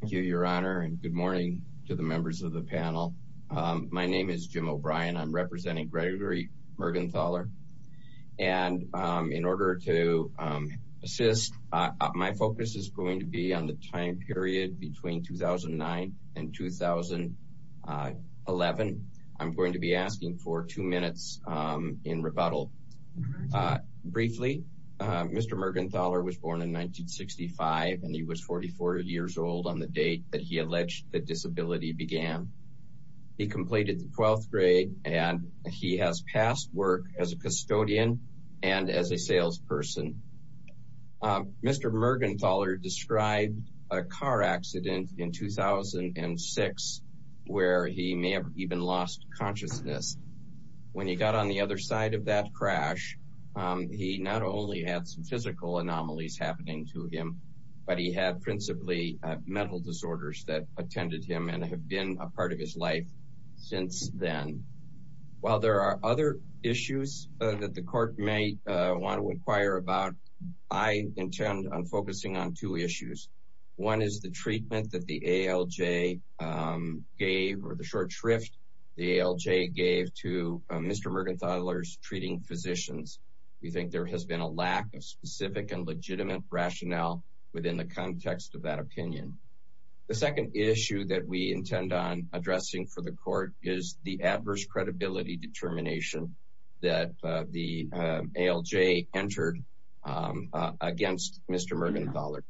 Thank you your honor and good morning to the members of the panel. My name is Jim O'Brien. I'm representing Gregory Mergenthaler and in order to assist, my focus is going to be on the time period between 2009 and 2011. I'm going to be asking for two minutes in rebuttal. Briefly, Mr. Mergenthaler was born in 1965 and he was 44 years old on the date that he alleged that disability began. He completed the 12th grade and he has passed work as a custodian and as a salesperson. Mr. Mergenthaler described a car accident in 2006 where he may have even lost consciousness. When he got on the other side of that crash, he not only had some physical anomalies happening to him, but he had principally mental disorders that attended him and have been a part of his life since then. While there are other issues that the court may want to inquire about, I intend on focusing on two issues. One is the treatment that the ALJ gave or the short shrift the ALJ gave to Mr. Mergenthaler's treating physicians. We think there has been a lack of specific and legitimate rationale within the context of that opinion. The second issue that we intend on addressing for the court is the adverse credibility determination that the ALJ entered against Mr. Mergenthaler.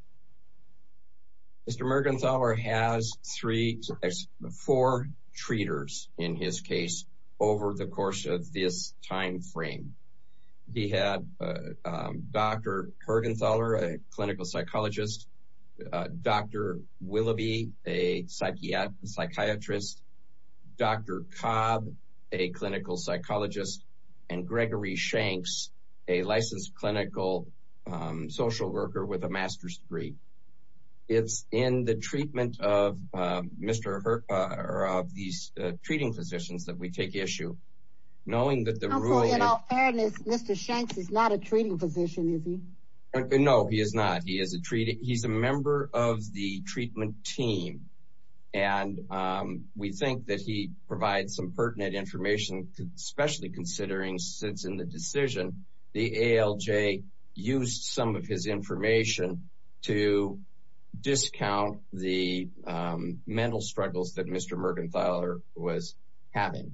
Mr. Mergenthaler has three to four treaters in his case over the course of this time frame. He had Dr. Hergenthaler, a clinical psychologist, Dr. Willoughby, a psychiatrist, Dr. Cobb, a clinical psychologist, and Gregory Shanks, a licensed clinical social worker with a master's degree. It's in the treatment of Mr. Her... of these treating physicians that we take issue knowing that the rule... In all fairness, Mr. Shanks is not a treating physician, is he? No, he is not. He is a treating... he's a member of the treatment team and we think that he provides some pertinent information, especially considering since in the decision the discount the mental struggles that Mr. Mergenthaler was having.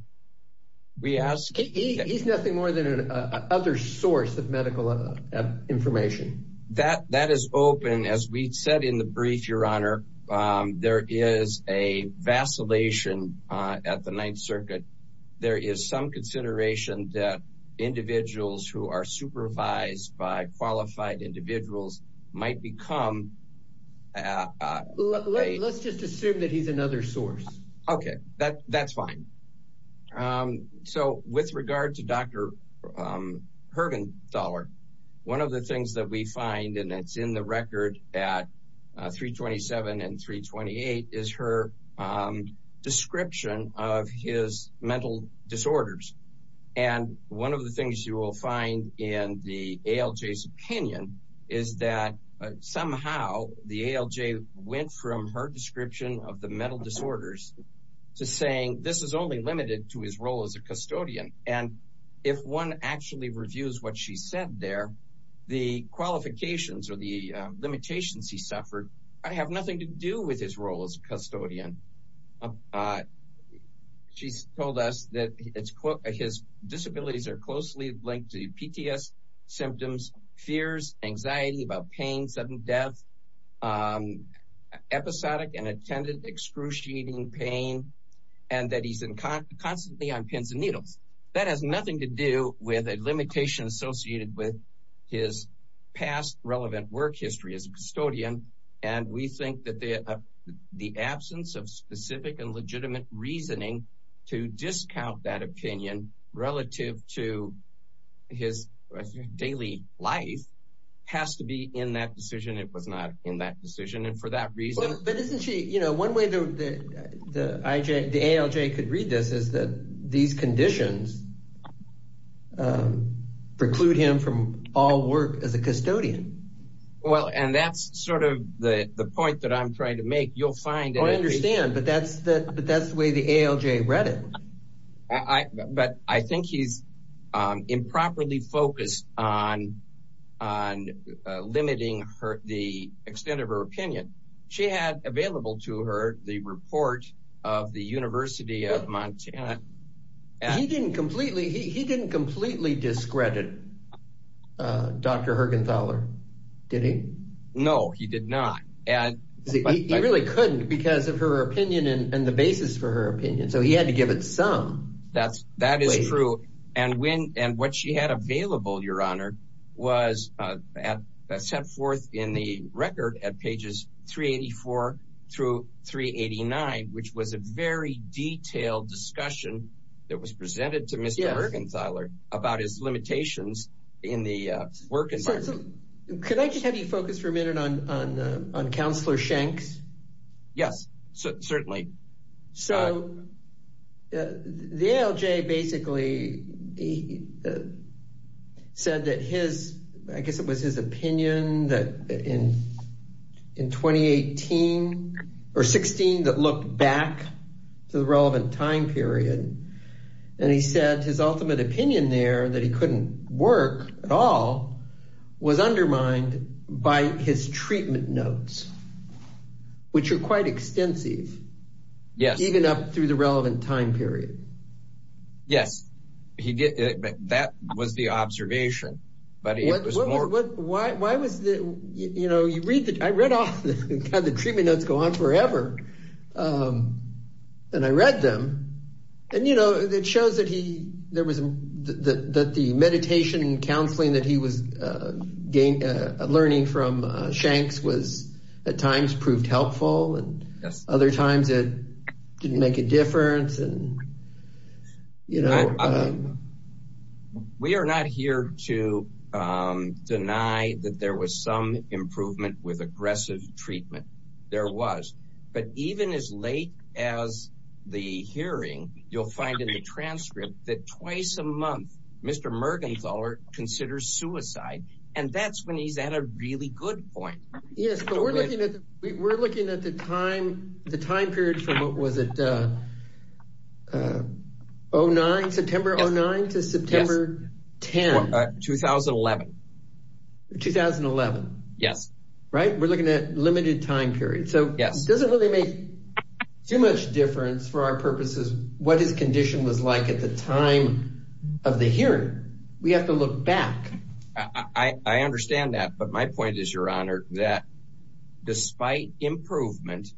We ask... He's nothing more than an other source of medical information. That... that is open. As we said in the brief, Your Honor, there is a vacillation at the Ninth Circuit. There is some consideration that individuals who are supervised by Let's just assume that he's another source. Okay, that... that's fine. So with regard to Dr. Hergenthaler, one of the things that we find and it's in the record at 327 and 328 is her description of his mental disorders and one of the the ALJ went from her description of the mental disorders to saying this is only limited to his role as a custodian and if one actually reviews what she said there, the qualifications or the limitations he suffered have nothing to do with his role as a custodian. She's told us that it's... his disabilities are closely linked to PTS symptoms, fears, anxiety about pain, sudden death, episodic and attended excruciating pain, and that he's constantly on pins and needles. That has nothing to do with a limitation associated with his past relevant work history as a custodian and we think that the absence of specific and his daily life has to be in that decision. It was not in that decision and for that reason... But isn't she, you know, one way the IJ, the ALJ could read this is that these conditions preclude him from all work as a custodian. Well and that's sort of the the point that I'm trying to make. You'll find... I understand but that's the way the ALJ read it. But I think he's improperly focused on limiting the extent of her opinion. She had available to her the report of the University of Montana. He didn't completely discredit Dr. Hergenthaler, did he? No, he did not and he really couldn't because of her opinion and the basis for her opinion. So he had to give it some weight. That is true and what she had available, your honor, was set forth in the record at pages 384 through 389, which was a very detailed discussion that was presented to Mr. Hergenthaler about his limitations in the work environment. Could I just have you focus for a minute on Councilor Schenck's? Yes, certainly. So the ALJ basically said that his, I guess it was his opinion that in in 2018 or 16 that looked back to the relevant time period and he said his was undermined by his treatment notes, which are quite extensive. Yes. Even up through the relevant time period. Yes, he did. That was the observation. But why was it, you know, you read that I read off the kind of treatment notes go on forever and I read them and you know it shows that he there was that the meditation and counseling that he was learning from Schenck's was at times proved helpful and other times it didn't make a difference and you know. We are not here to deny that there was some improvement with aggressive treatment. There was. But even as late as the hearing, you'll find in the transcript that twice a month Mr. Hergenthaler considers suicide and that's when he's at a really good point. Yes, but we're looking at the time period from what was it? 09, September 09 to September 10, 2011. 2011. Yes. Right, we're looking at limited time period. So yes, it doesn't really make too much difference for our purposes what his condition was like at the time of the hearing. We have to look back. I understand that, but my point is, Your Honor, that despite improvement,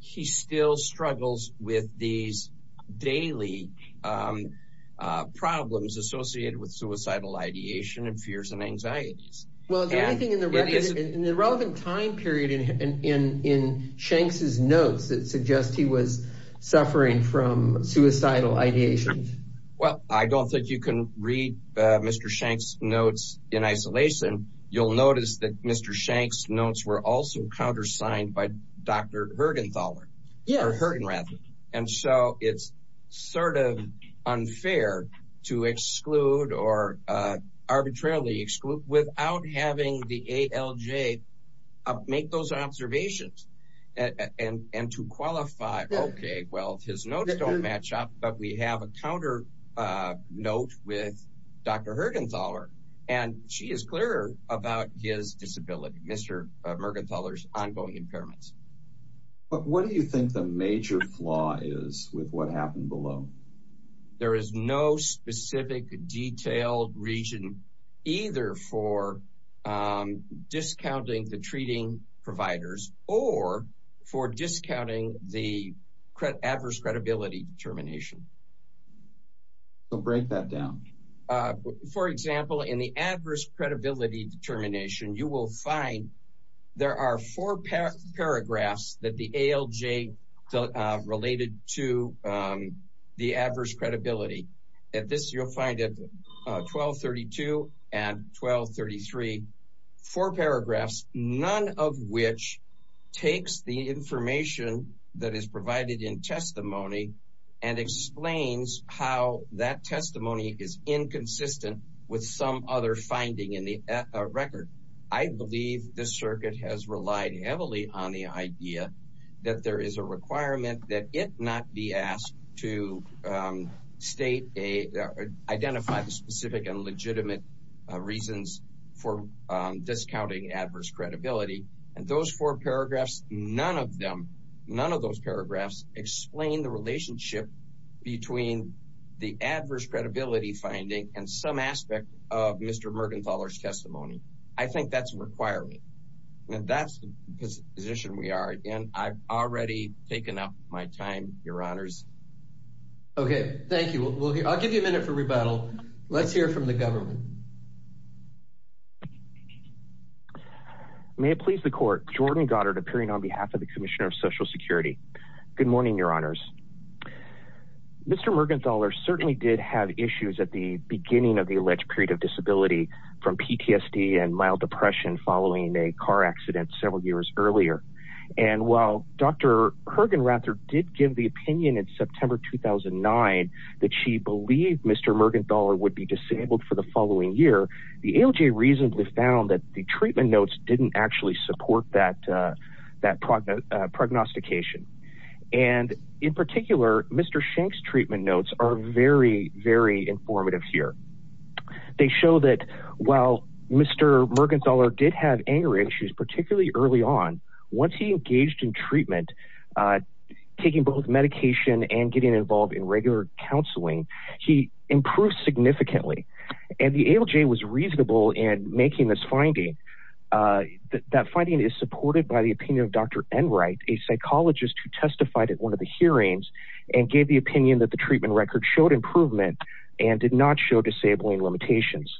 he still struggles with these daily problems associated with suicidal ideation and fears and anxieties. Well, the only thing in the relevant time period in Schenck's notes that suggest he was suffering from suicidal ideation. Well, I don't think you can read Mr. Schenck's notes in isolation. You'll notice that Mr. Schenck's notes were also countersigned by Dr. Hergenthaler. Yes. Or Hergen, rather. And so it's sort of unfair to exclude or arbitrarily exclude without having the ALJ make those Okay, well, his notes don't match up, but we have a counter note with Dr. Hergenthaler, and she is clearer about his disability, Mr. Hergenthaler's ongoing impairments. But what do you think the major flaw is with what happened below? There is no specific detailed region either for discounting the treating providers or for discounting the adverse credibility determination. So break that down. For example, in the adverse credibility determination, you will find there are four paragraphs that the ALJ related to the adverse credibility. At this, you'll find it 1232 and 1233, four paragraphs none of which takes the information that is provided in testimony and explains how that testimony is inconsistent with some other finding in the record. I believe the circuit has relied heavily on the idea that there is a requirement that it not be asked to state a identify the specific and legitimate reasons for discounting adverse credibility. And those four paragraphs, none of them, none of those paragraphs explain the relationship between the adverse credibility finding and some aspect of Mr. Mergenthaler's testimony. I think that's a requirement. That's the position we are in. I've already taken up my time, Your Honors. Okay, thank you. I'll give you a minute for rebuttal. Let's hear from the government. May it please the court. Jordan Goddard appearing on behalf of the Commissioner of Social Security. Good morning, Your Honors. Mr. Mergenthaler certainly did have issues at the beginning of the alleged period of disability from PTSD and mild depression following a car accident several years earlier. And while Dr. Kergenrather did give the opinion in September 2009 that she believed Mr. Mergenthaler would be disabled for the following year, the AOJ reasonably found that the treatment notes didn't actually support that prognostication. And in particular, Mr. Shank's treatment notes are very, very informative here. They show that while Mr. Mergenthaler did have anger issues, particularly early on, once he engaged in treatment, taking both medication and getting involved in regular counseling, he improved significantly. And the AOJ was reasonable in making this finding. That finding is supported by the opinion of Dr. Enright, a psychologist who testified at one of the hearings and gave the opinion that the treatment record showed improvement and did not show disabling limitations.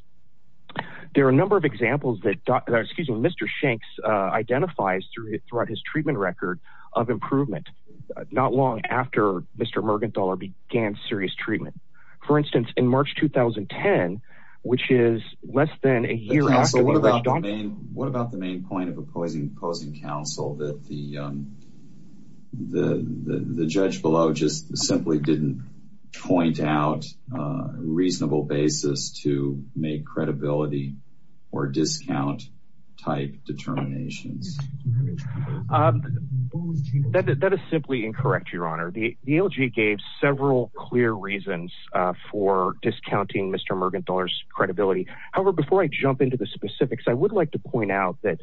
There are a number of examples that Dr., excuse me, Mr. Shank's identifies throughout his treatment record of improvement, not long after Mr. Mergenthaler began serious treatment. For instance, in March 2010, which is less than a year after the alleged... What about the main point of opposing counsel that the judge below just simply didn't point out a reasonable basis to make credibility or discount type determinations? That is simply incorrect, Your Honor. The AOJ gave several clear reasons for discounting Mr. Mergenthaler's credibility. However, before I jump into the specifics, I would like to point out that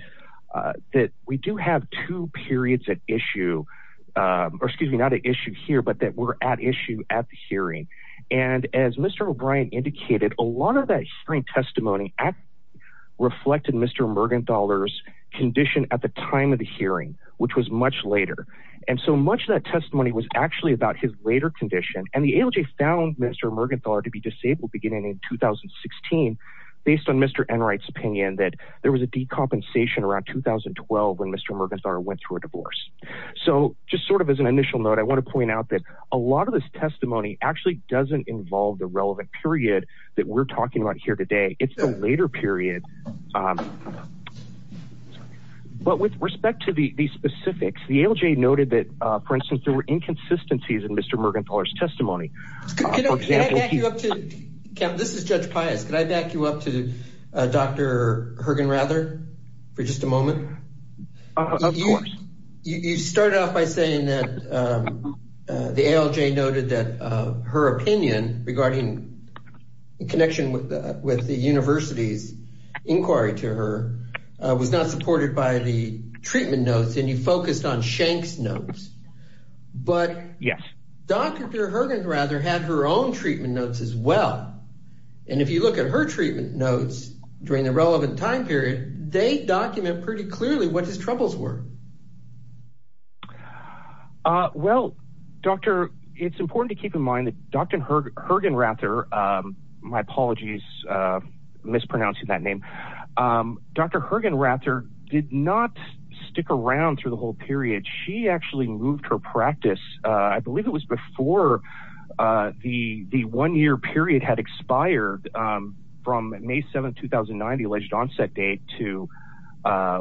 we do have two periods at issue, or excuse me, not at issue here, but that we're at issue at the hearing. And as Mr. O'Brien indicated, a lot of that hearing testimony reflected Mr. Mergenthaler's condition at the time of the hearing, which was much later. And so much of that testimony was actually about his later condition. And the AOJ found Mr. Mergenthaler to be disabled beginning in 2016, based on Mr. Enright's opinion that there was a decompensation around 2012 when Mr. Mergenthaler went through a divorce. So just sort of as an initial note, I want to point out that a lot of this testimony actually doesn't involve the relevant period that we're talking about here today. It's the later period. But with respect to the specifics, the AOJ noted that, for instance, there were inconsistencies in Mr. Mergenthaler's testimony. Kevin, this is Judge Pius. Could I back you up to Dr. Hergenrather for just a moment? Of course. You started off by saying that the AOJ noted that her opinion regarding the connection with the university's inquiry to her was not supported by the treatment notes, and you focused on Schenck's notes. But Dr. Hergenrather had her own treatment notes as well. And if you look at her treatment notes during the relevant time period, they document pretty clearly what his troubles were. Well, Doctor, it's important to keep in mind that Dr. Hergenrather, my apologies, mispronouncing that name, Dr. Hergenrather did not stick around through the whole period. She actually moved her practice. I believe it was before the one year period had expired from May 7th, 2009, the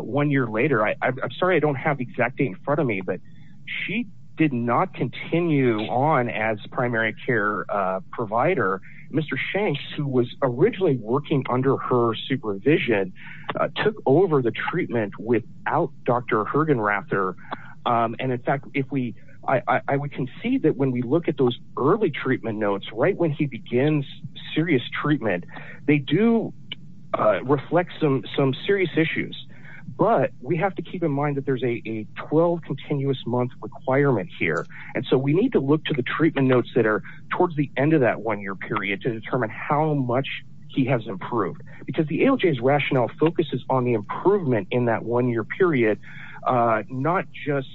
one year later. I'm sorry, I don't have the exact date in front of me, but she did not continue on as primary care provider. Mr. Schenck, who was originally working under her supervision, took over the treatment without Dr. Hergenrather. And in fact, I would concede that when we look at those early treatment notes, right when he begins serious treatment, they do reflect some serious issues. But we have to keep in mind that there's a 12 continuous month requirement here. And so we need to look to the treatment notes that are towards the end of that one year period to determine how much he has improved, because the ALJ's rationale focuses on the improvement in that one year period, not just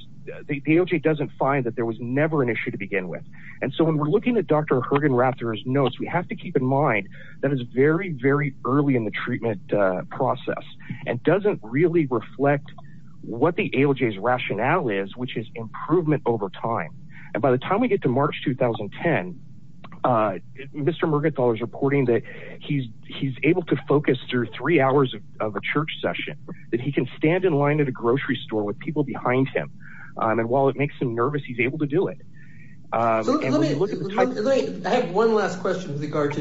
the ALJ doesn't find that there was never an issue to begin with. And so when we're looking at Dr. Hergenrather's notes, we have to keep in mind that it's very, very early in the and doesn't really reflect what the ALJ's rationale is, which is improvement over time. And by the time we get to March 2010, Mr. Mergenthaler is reporting that he's he's able to focus through three hours of a church session, that he can stand in line at a grocery store with people behind him. And while it makes him nervous, he's able to do it. So let me have one last question with regard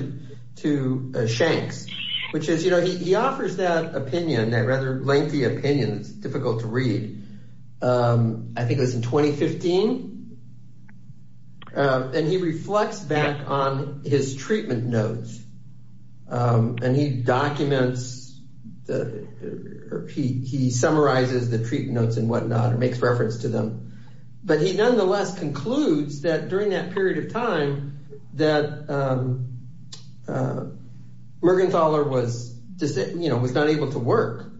to Schenck's, which is, you know, he has a rather lengthy opinion. It's difficult to read. I think it was in 2015. And he reflects back on his treatment notes and he documents that he summarizes the treatment notes and whatnot and makes reference to them. But he nonetheless concludes that during that period of time that Mergenthaler was, you know, was not able to work.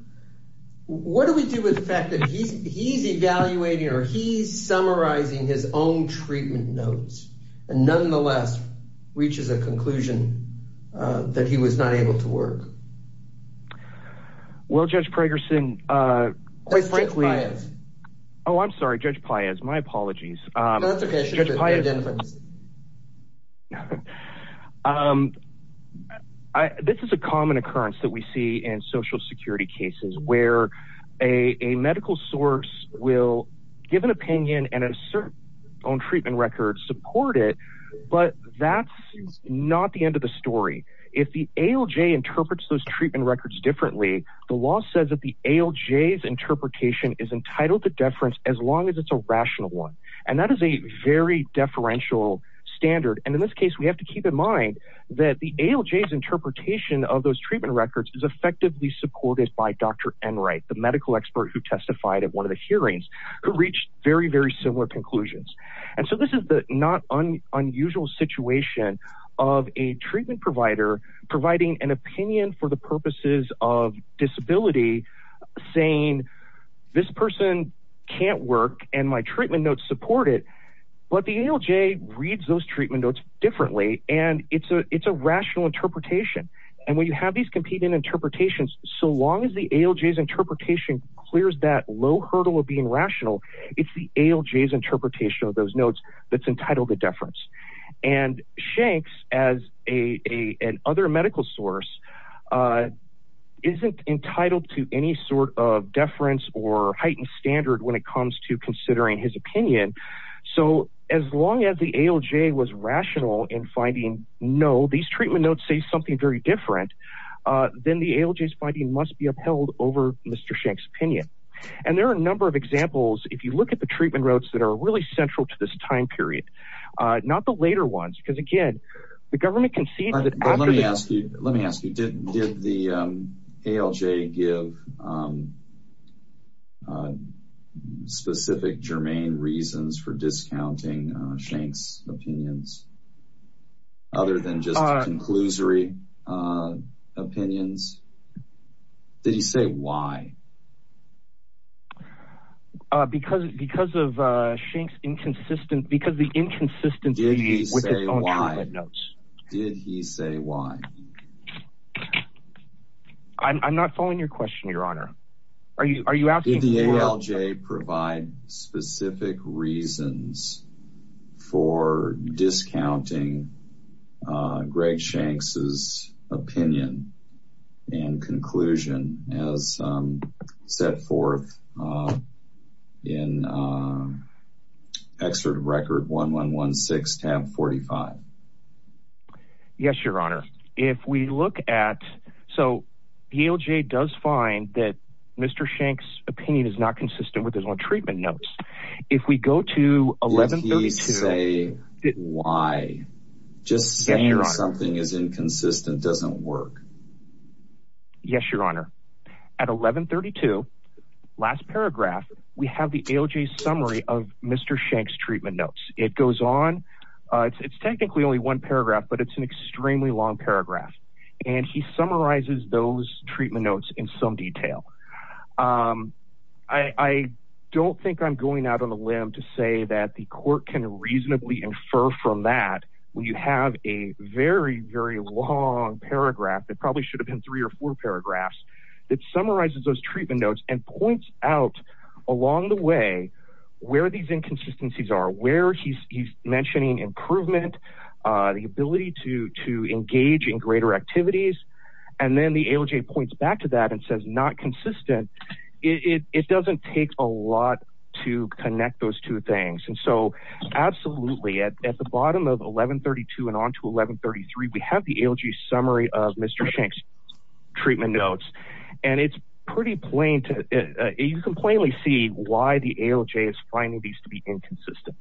What do we do with the fact that he's evaluating or he's summarizing his own treatment notes and nonetheless reaches a conclusion that he was not able to work? Well, Judge Prager-Singh, quite frankly. Oh, I'm sorry, Judge Paez, my apologies. That's OK, I should have identified you. This is a common occurrence that we see in Social Security cases where a medical source will give an opinion and assert their own treatment record, support it. But that's not the end of the story. If the ALJ interprets those treatment records differently, the law says that the ALJ's interpretation is entitled to deference as long as it's a rational one. And that is a very deferential standard. And in this case, we have to keep in mind that the ALJ's interpretation of those treatment records is effectively supported by Dr. Enright, the medical expert who testified at one of the hearings, who reached very, very similar conclusions. And so this is the not unusual situation of a treatment provider providing an opinion for the purposes of disability, saying this person can't work and my treatment notes differently. And it's a it's a rational interpretation. And when you have these competing interpretations, so long as the ALJ's interpretation clears that low hurdle of being rational, it's the ALJ's interpretation of those notes that's entitled to deference. And Shanks, as a other medical source, isn't entitled to any sort of deference or heightened standard when it comes to considering his opinion. So as long as the ALJ was rational in finding, no, these treatment notes say something very different, then the ALJ's finding must be upheld over Mr. Shank's opinion. And there are a number of examples. If you look at the treatment routes that are really central to this time period, not the later ones, because, again, the government can see that. But let me ask you, let me ask you, did the ALJ give specific germane reasons for discounting Shanks' opinions other than just the conclusory opinions? Did he say why? Because because of Shanks' inconsistent because the inconsistency with his own opinion, did he say why? I'm not following your question, Your Honor. Are you are you asking? Did the ALJ provide specific reasons for discounting Greg Shanks' opinion and conclusion as set forth in Excerpt of Record 1116, tab 45? Yes, Your Honor. If we look at so, ALJ does find that Mr. Shank's opinion is not consistent with his own treatment notes. If we go to 1132, did he say why? Just saying something is inconsistent doesn't work. Yes, Your Honor. At 1132, last paragraph, we have the ALJ's summary of Mr. Shank's treatment notes. It goes on, it's technically only one paragraph, but it's an extremely long paragraph. And he summarizes those treatment notes in some detail. I don't think I'm going out on a limb to say that the court can reasonably infer from that when you have a very, very long paragraph that probably should have been three or four paragraphs that summarizes those treatment notes and points out along the way where these inconsistencies are, where he's mentioning improvement, the ability to engage in greater activities. And then the ALJ points back to that and says, not consistent. It doesn't take a lot to connect those two things. And so absolutely, at the bottom of 1132 and on to 1133, we have the ALJ's summary of Mr. Shank's treatment notes. And it's pretty plain, you can plainly see why the ALJ is finding these to be inconsistent.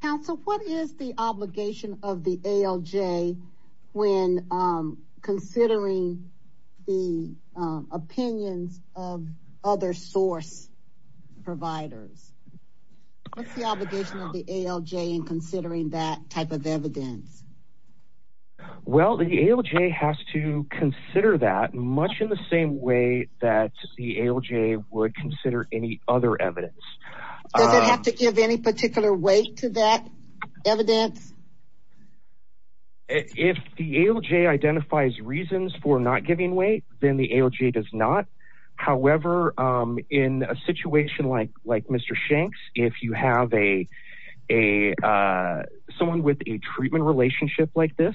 Counsel, what is the obligation of the ALJ when considering the opinions of other source providers? What's the obligation of the ALJ in considering that type of evidence? Well, the ALJ has to consider that much in the same way that the ALJ would consider any other evidence. Does it have to give any particular weight to that evidence? If the ALJ identifies reasons for not giving weight, then the ALJ does not. However, in a situation like Mr. Shank's, if you have someone with a treatment relationship like this,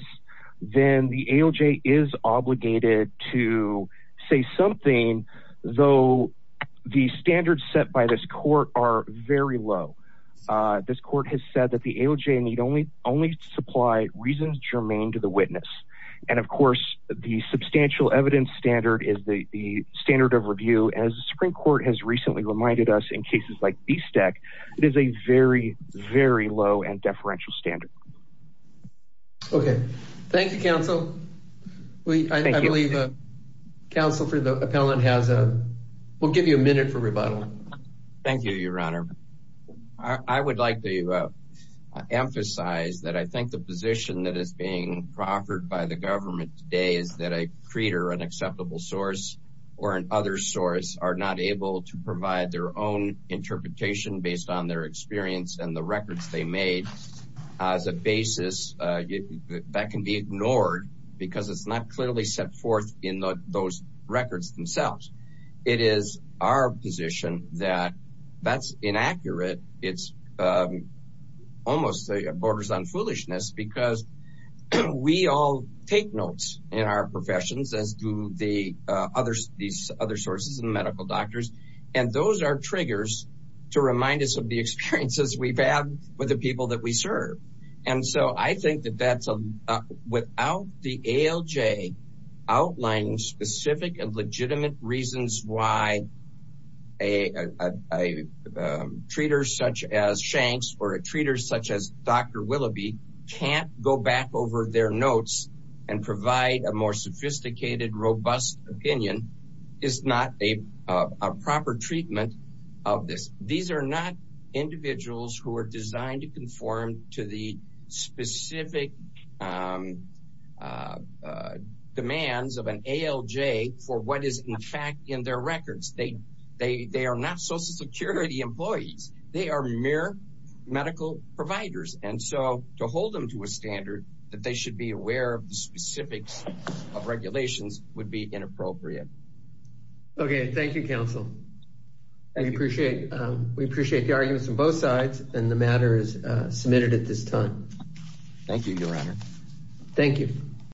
then the ALJ is obligated to say something, though the standards set by this court are very low. This court has said that the ALJ need only supply reasons germane to the witness. And of course, the substantial evidence standard is the standard of review. As the Supreme Court has recently reminded us in cases like BSTEC, it is a very, very low and deferential standard. Okay. Thank you, counsel. I believe counsel for the appellant has a, we'll give you a minute for rebuttal. Thank you, Your Honor. I would like to emphasize that I think the position that is being proffered by the government today is that a treater, an acceptable source, or an other source are not able to provide their own interpretation based on their experience and the records they made as a basis that can be ignored because it's not clearly set forth in those records themselves. It is our position that that's inaccurate. It's almost a borders on foolishness because we all take notes in our professions as do these other sources and medical doctors. And those are triggers to remind us of the experiences we've had with the people that we serve. And so I think that without the ALJ outlining specific and legitimate reasons why a treater such as Shanks or a treater such as Dr. Willoughby can't go back over their notes and provide a more sophisticated, robust opinion is not a proper treatment of this. These are not individuals who are designed to conform to the specific demands of an ALJ for what is in fact in their records. They are not Social Security employees. They are mere medical providers. And so to hold them to a standard that they should be aware of the specifics of regulations would be inappropriate. Okay. Thank you, counsel. I appreciate it. We appreciate the arguments on both sides and the matter is submitted at this time. Thank you, your honor. Thank you.